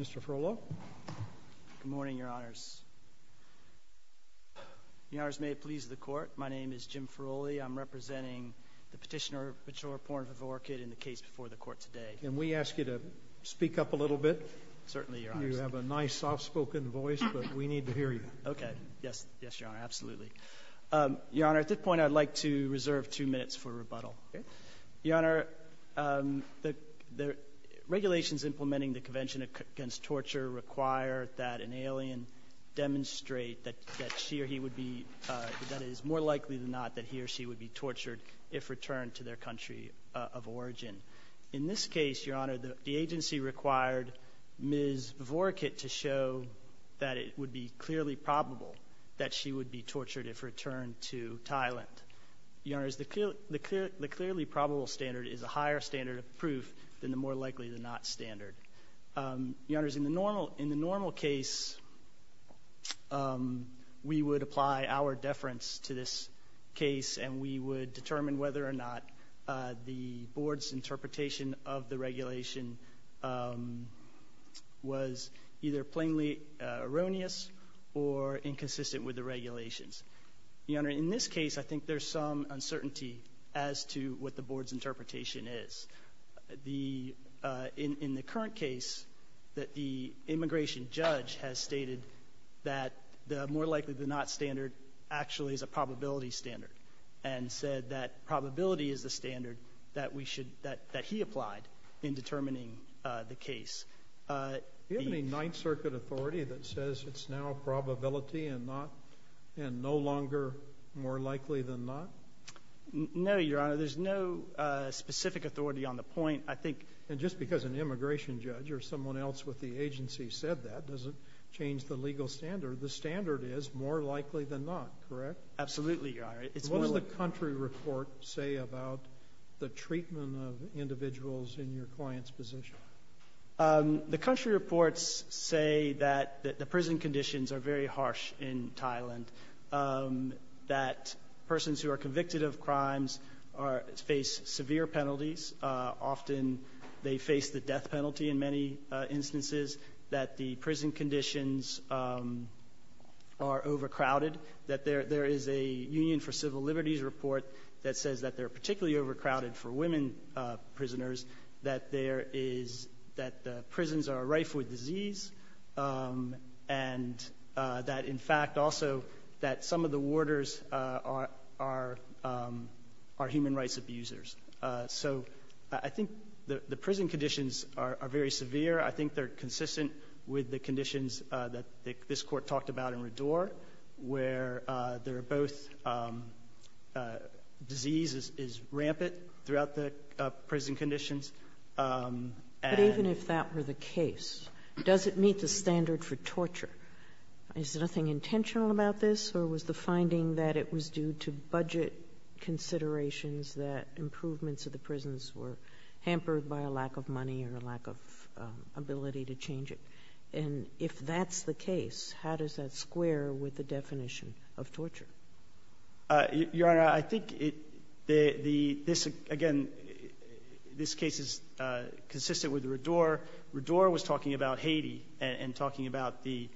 Mr. Ferrola. Good morning, Your Honors. Your Honors, may it please the Court, my name is Jim Ferroli. I'm representing the petitioner, Vachiraporn Vivorakit, in the case before the Court today. Can we ask you to speak up a little bit? Certainly, Your Honors. You have a nice, soft-spoken voice, but we need to hear you. Okay. Yes, Your Honor, absolutely. Your Honor, at this point I'd like to reserve two minutes for rebuttal. Okay. Your Honor, the regulations implementing the Convention Against Torture require that an alien demonstrate that she or he would be, that it is more likely than not that he or she would be tortured if returned to their country of origin. In this case, Your Honor, the agency required Ms. Vivorakit to show that it would be clearly probable that she would be tortured if returned to Thailand. Your Honors, the clearly probable standard is a higher standard of proof than the more likely than not standard. Your Honors, in the normal case, we would apply our deference to this case, and we would determine whether or not the Board's interpretation of the regulation was either plainly erroneous or inconsistent with the regulations. Your Honor, in this case, I think there's some uncertainty as to what the Board's interpretation is. In the current case, the immigration judge has stated that the more likely than not standard actually is a probability standard, and said that probability is the standard that we should apply in determining the case. Do you have any Ninth Circuit authority that says it's now probability and no longer more likely than not? No, Your Honor, there's no specific authority on the point. And just because an immigration judge or someone else with the agency said that doesn't change the legal standard. The standard is more likely than not, correct? Absolutely, Your Honor. What does the country report say about the treatment of individuals in your client's position? The country reports say that the prison conditions are very harsh in Thailand, that persons who are convicted of crimes face severe penalties. Often they face the death penalty in many instances, that the prison conditions are overcrowded, that there is a Union for Civil Liberties report that says that they're particularly overcrowded for women prisoners, that the prisons are rife with disease, and that in fact also that some of the warders are human rights abusers. So I think the prison conditions are very severe. I think they're consistent with the conditions that this Court talked about in Rador, where there are both diseases is rampant throughout the prison conditions. And even if that were the case, does it meet the standard for torture? Is there nothing intentional about this, or was the finding that it was due to budget considerations that improvements of the prisons were hampered by a lack of money or a lack of ability to change it? And if that's the case, how does that square with the definition of torture? Your Honor, I think the — this, again, this case is consistent with Rador. Rador was talking about Haiti and talking about the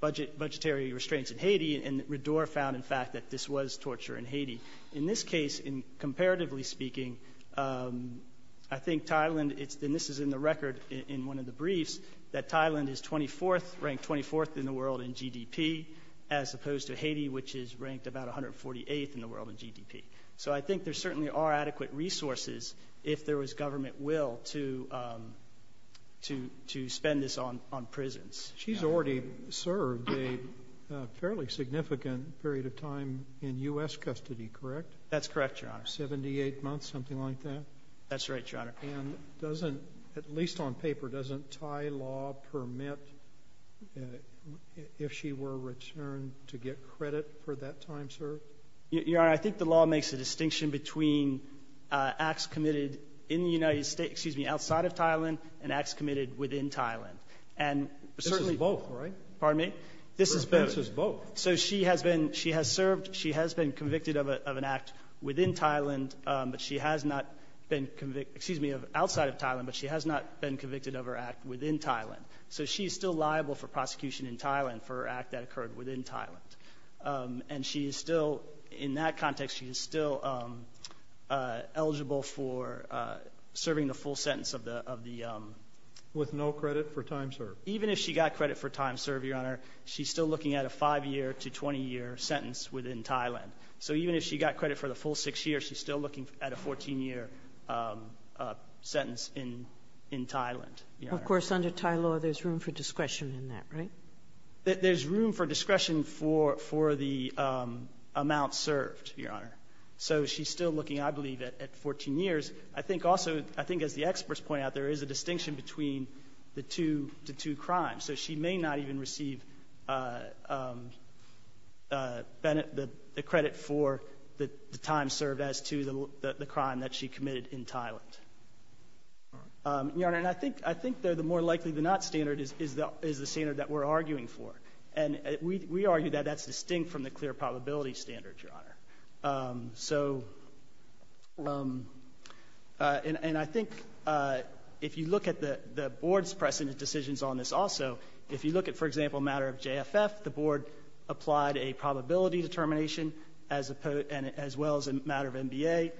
budgetary restraints in Haiti, and Rador found, in fact, that this was torture in Haiti. In this case, comparatively speaking, I think Thailand — and this is in the record in one of the briefs — that Thailand is 24th, ranked 24th in the world in GDP, as opposed to Haiti, which is ranked about 148th in the world in GDP. So I think there certainly are adequate resources, if there was government will, to — to spend this on prisons. She's already served a fairly significant period of time in U.S. custody, correct? That's correct, Your Honor. Seventy-eight months, something like that? That's right, Your Honor. And doesn't — at least on paper, doesn't Thai law permit, if she were returned, to get credit for that time served? Your Honor, I think the law makes a distinction between acts committed in the United States — excuse me, outside of Thailand and acts committed within Thailand. And certainly — This is both, right? Pardon me? This is both. So she has been — she has served — she has been convicted of an act within Thailand, but she has not been — excuse me, outside of Thailand, but she has not been convicted of her act within Thailand. So she's still liable for prosecution in Thailand for her She is still — in that context, she is still eligible for serving the full sentence of the — of the — With no credit for time served? Even if she got credit for time served, Your Honor, she's still looking at a five-year to 20-year sentence within Thailand. So even if she got credit for the full six years, she's still looking at a 14-year sentence in — in Thailand, Your Honor. Of course, under Thai law, there's room for discretion in that, right? There's room for discretion for — for the amount served, Your Honor. So she's still looking, I believe, at 14 years. I think also — I think, as the experts point out, there is a distinction between the two — the two crimes. So she may not even receive the credit for the time served as to the crime that she committed in Thailand. All right. Your Honor, and I think — I think the more likely-than-not standard is the — is the standard that we're arguing for. And we — we argue that that's distinct from the clear probability standard, Your Honor. So — and I think if you look at the — the board's precedent decisions on this also, if you look at, for example, a matter of JFF, the board applied a probability determination as opposed — as well as a matter of MBA,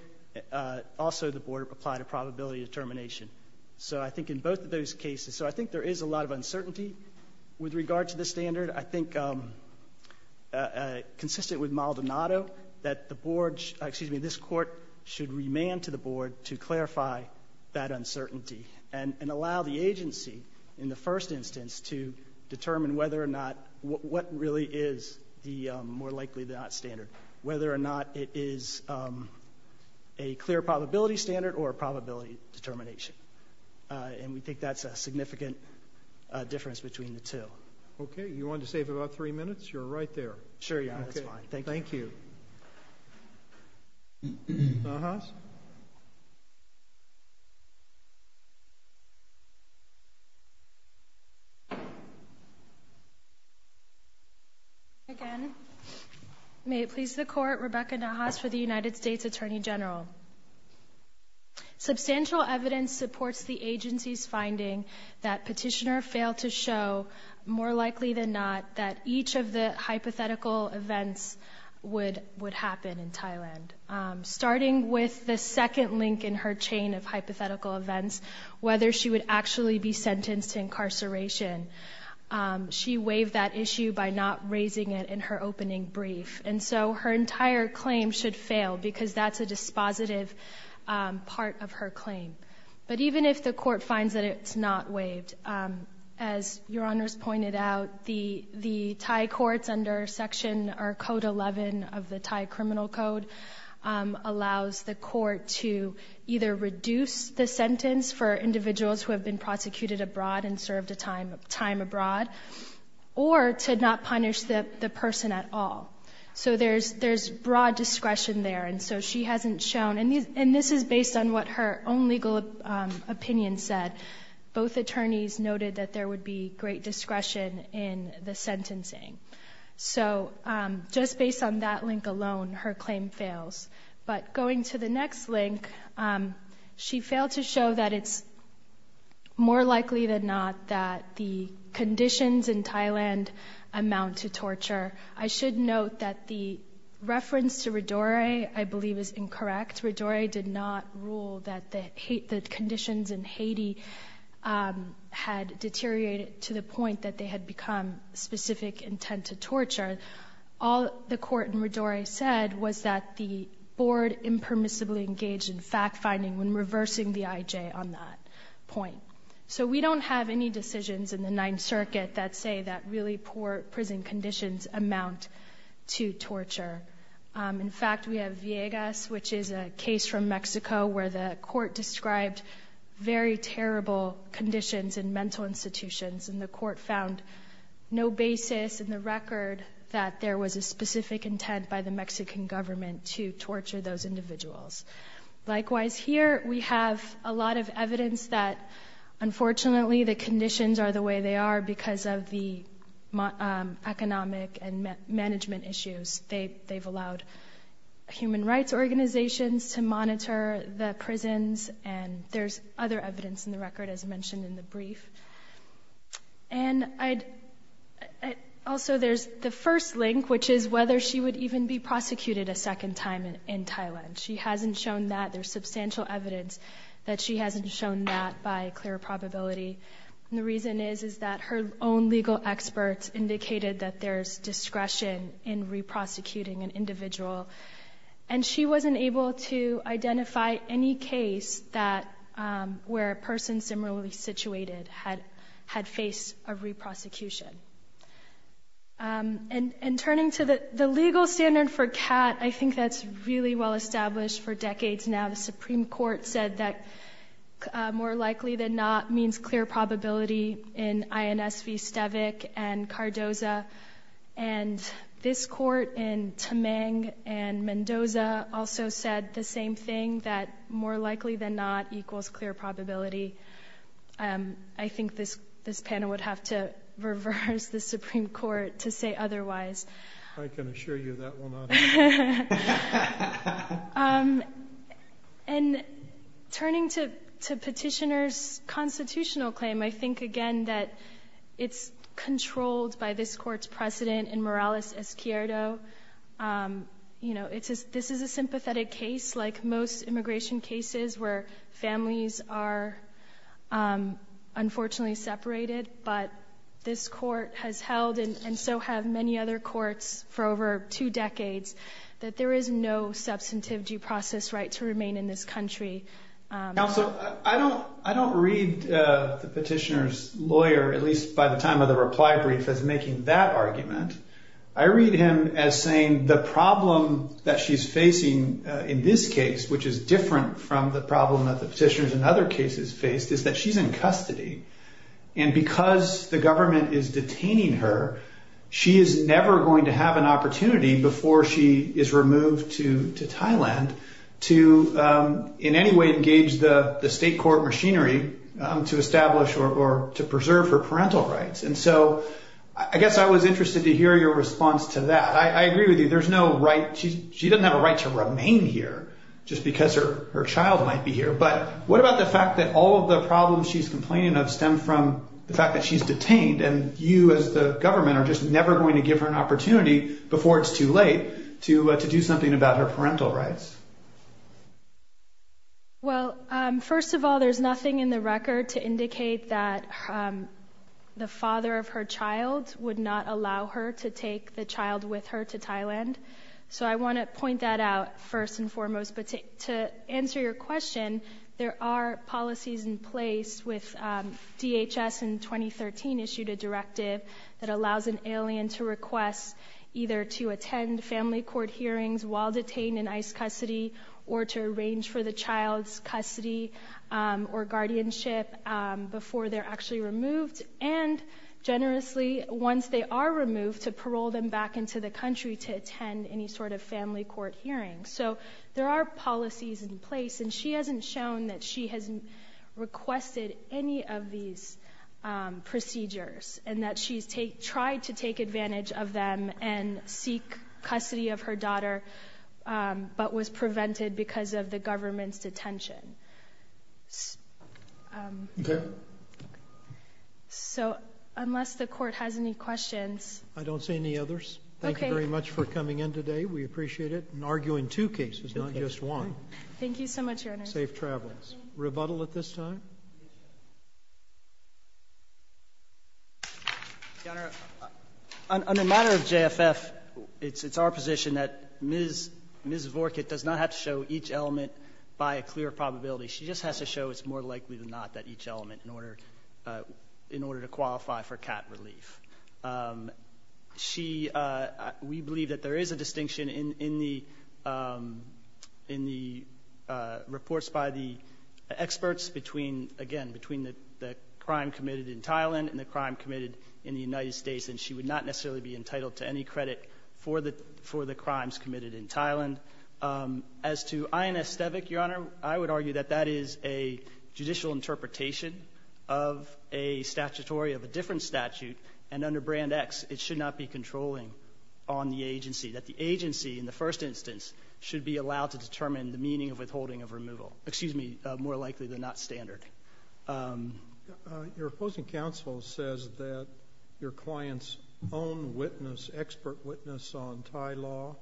also the board applied a probability determination. So I think in both of those cases — so I think there is a lot of uncertainty with regard to the standard. I think, consistent with Maldonado, that the board — excuse me, this Court should remand to the board to clarify that uncertainty and allow the agency, in the first instance, to determine whether or not — what really is the more likely-than-not standard, whether or not it is a clear probability standard or a probability determination. And we think that's a significant difference between the two. Okay. You wanted to save about three minutes? You're right there. Sure, Your Honor. That's fine. Thank you. Thank you. Nahaas? Again, may it please the Court, Rebecca Nahaas for the United States Attorney General. Substantial evidence supports the agency's finding that Petitioner failed to show, more likely than not, that each of the hypothetical events would happen in Thailand. Starting with the second link in her chain of hypothetical events, whether she would actually be sentenced to incarceration, she waived that issue by not raising it in her opening brief. And so her entire claim should fail because that's a dispositive part of her claim. But even if the Court finds that it's not waived, as Your Honor's pointed out, the Thai courts under Section or Code 11 of the Thai Criminal Code allows the court to either reduce the sentence for individuals who have been prosecuted abroad and served a time abroad, or to not punish the person at all. So there's broad discretion there. And so she hasn't shown. And this is based on what her own legal opinion said. Both attorneys noted that there would be great discretion in the sentencing. So just based on that link alone, her claim fails. But going to the next link, she failed to show that it's more likely than not that the conditions in Thailand amount to torture. I should note that the reference to Rodore, I believe, is incorrect. Rodore did not rule that the conditions in Haiti had deteriorated to the point that they had become specific intent to torture. All the court in Rodore said was that the board impermissibly engaged in fact-finding when reversing the IJ on that point. So we don't have any decisions in the Ninth Circuit that say that really poor prison conditions amount to torture. In fact, we have Viegas, which is a case from Mexico where the court described very terrible conditions in mental institutions. And the court found no basis in the record that there was a specific intent by the Mexican government to torture those individuals. Likewise, here we have a lot of evidence that, unfortunately, the conditions are the way they are because of the economic and management issues. They've allowed human rights organizations to monitor the prisons. And there's other evidence in the record, as mentioned in the brief. And also there's the first link, which is whether she would even be prosecuted a second time in Thailand. She hasn't shown that. There's substantial evidence that she hasn't shown that by clear probability. And the reason is that her own legal experts indicated that there's discretion in re-prosecuting an individual. And she wasn't able to identify any case where a person similarly situated had faced a re-prosecution. And turning to the legal standard for CAT, I think that's really well established for decades now. The Supreme Court said that more likely than not means clear probability in INS v. Stavik and Cardoza. And this Court in Temeng and Mendoza also said the same thing, that more likely than not equals clear probability. I think this panel would have to reverse the Supreme Court to say otherwise. I can assure you that will not happen. And turning to Petitioner's constitutional claim, I think, again, that it's controlled by this Court's precedent in Morales-Ezquierdo. This is a sympathetic case, like most immigration cases where families are unfortunately separated. But this Court has held, and so have many other courts for over two decades, that there is no substantive due process right to remain in this country. Counsel, I don't read the Petitioner's lawyer, at least by the time of the reply brief, as making that argument. I read him as saying the problem that she's facing in this case, which is different from the problem that the Petitioner's in other cases faced, is that she's in custody. And because the government is detaining her, she is never going to have an opportunity before she is removed to Thailand to in any way engage the state court machinery to establish or to preserve her parental rights. And so I guess I was interested to hear your response to that. I agree with you. She doesn't have a right to remain here just because her child might be here. But what about the fact that all of the problems she's complaining of stem from the fact that she's detained, and you as the government are just never going to give her an opportunity before it's too late to do something about her parental rights? Well, first of all, there's nothing in the record to indicate that the father of her child would not allow her to take the child with her to Thailand. So I want to point that out first and foremost. But to answer your question, there are policies in place with DHS in 2013 issued a directive that allows an alien to request either to attend family court hearings while detained in ICE custody or to arrange for the child's custody or guardianship before they're actually removed, and generously, once they are removed, to parole them back into the country to attend any sort of family court hearing. So there are policies in place, and she hasn't shown that she has requested any of these procedures and that she's tried to take advantage of them and seek custody of her daughter but was prevented because of the government's detention. So unless the court has any questions... I don't see any others. Thank you very much for coming in today. We appreciate it. And argue in two cases, not just one. Thank you so much, Your Honor. Safe travels. Rebuttal at this time? Your Honor, on the matter of JFF, it's our position that Ms. Vorkut does not have to show each element by a clear probability. She just has to show it's more likely than not that each element, in order to qualify for CAT relief. We believe that there is a distinction in the reports by the experts between, again, the crime committed in Thailand and the crime committed in the United States. And she would not necessarily be entitled to any credit for the crimes committed in Thailand. As to INS Stevik, Your Honor, I would argue that that is a judicial interpretation of a statutory of a different statute. And under Brand X, it should not be controlling on the agency. That the agency, in the first instance, should be allowed to determine the meaning of withholding of removal. Excuse me, more likely than not, standard. Your opposing counsel says that your client's own witness, expert witness on Thai law,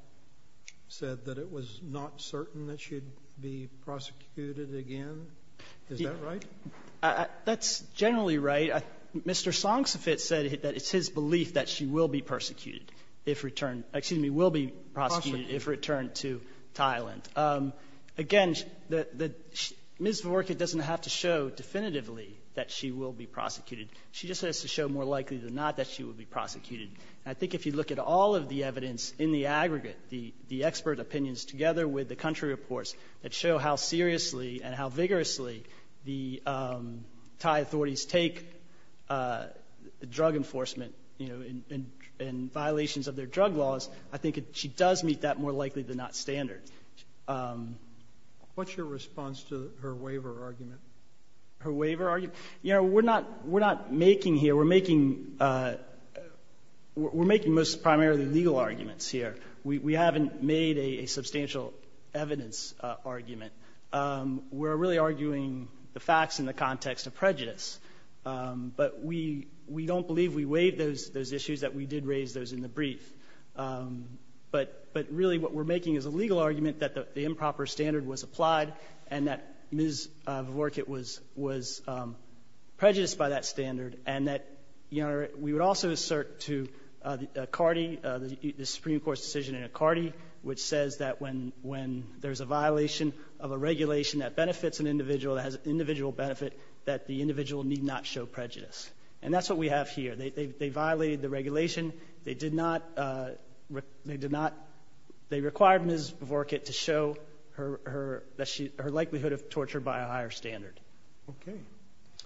said that it was not certain that she'd be prosecuted again. Is that right? That's generally right. Mr. Songsofit said that it's his belief that she will be prosecuted if returned. Excuse me, will be prosecuted if returned to Thailand. Again, Ms. Vavorkia doesn't have to show definitively that she will be prosecuted. She just has to show more likely than not that she will be prosecuted. And I think if you look at all of the evidence in the aggregate, the expert opinions together with the country reports that show how seriously and how vigorously the Thai authorities take drug enforcement in violations of their drug laws, I think she does meet that more likely than not standard. What's your response to her waiver argument? Her waiver argument? You know, we're not making here, we're making most primarily legal arguments here. We haven't made a substantial evidence argument. We're really arguing the facts in the context of prejudice. But we don't believe we waived those issues that we did raise those in the brief. But really what we're making is a legal argument that the improper standard was applied and that Ms. Vavorkia was prejudiced by that standard and that, you know, we would also assert to the Supreme Court's decision in Accardi which says that when there's a violation of a regulation that benefits an individual that has individual benefit, that the individual need not show prejudice. And that's what we have here. They violated the regulation. They did not, they did not, they required Ms. Vavorkia to show her likelihood of torture by a higher standard. Okay.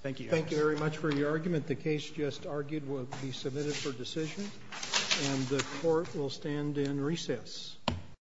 Thank you. Thank you very much for your argument. The case just argued will be submitted for decision and the court will stand in recess.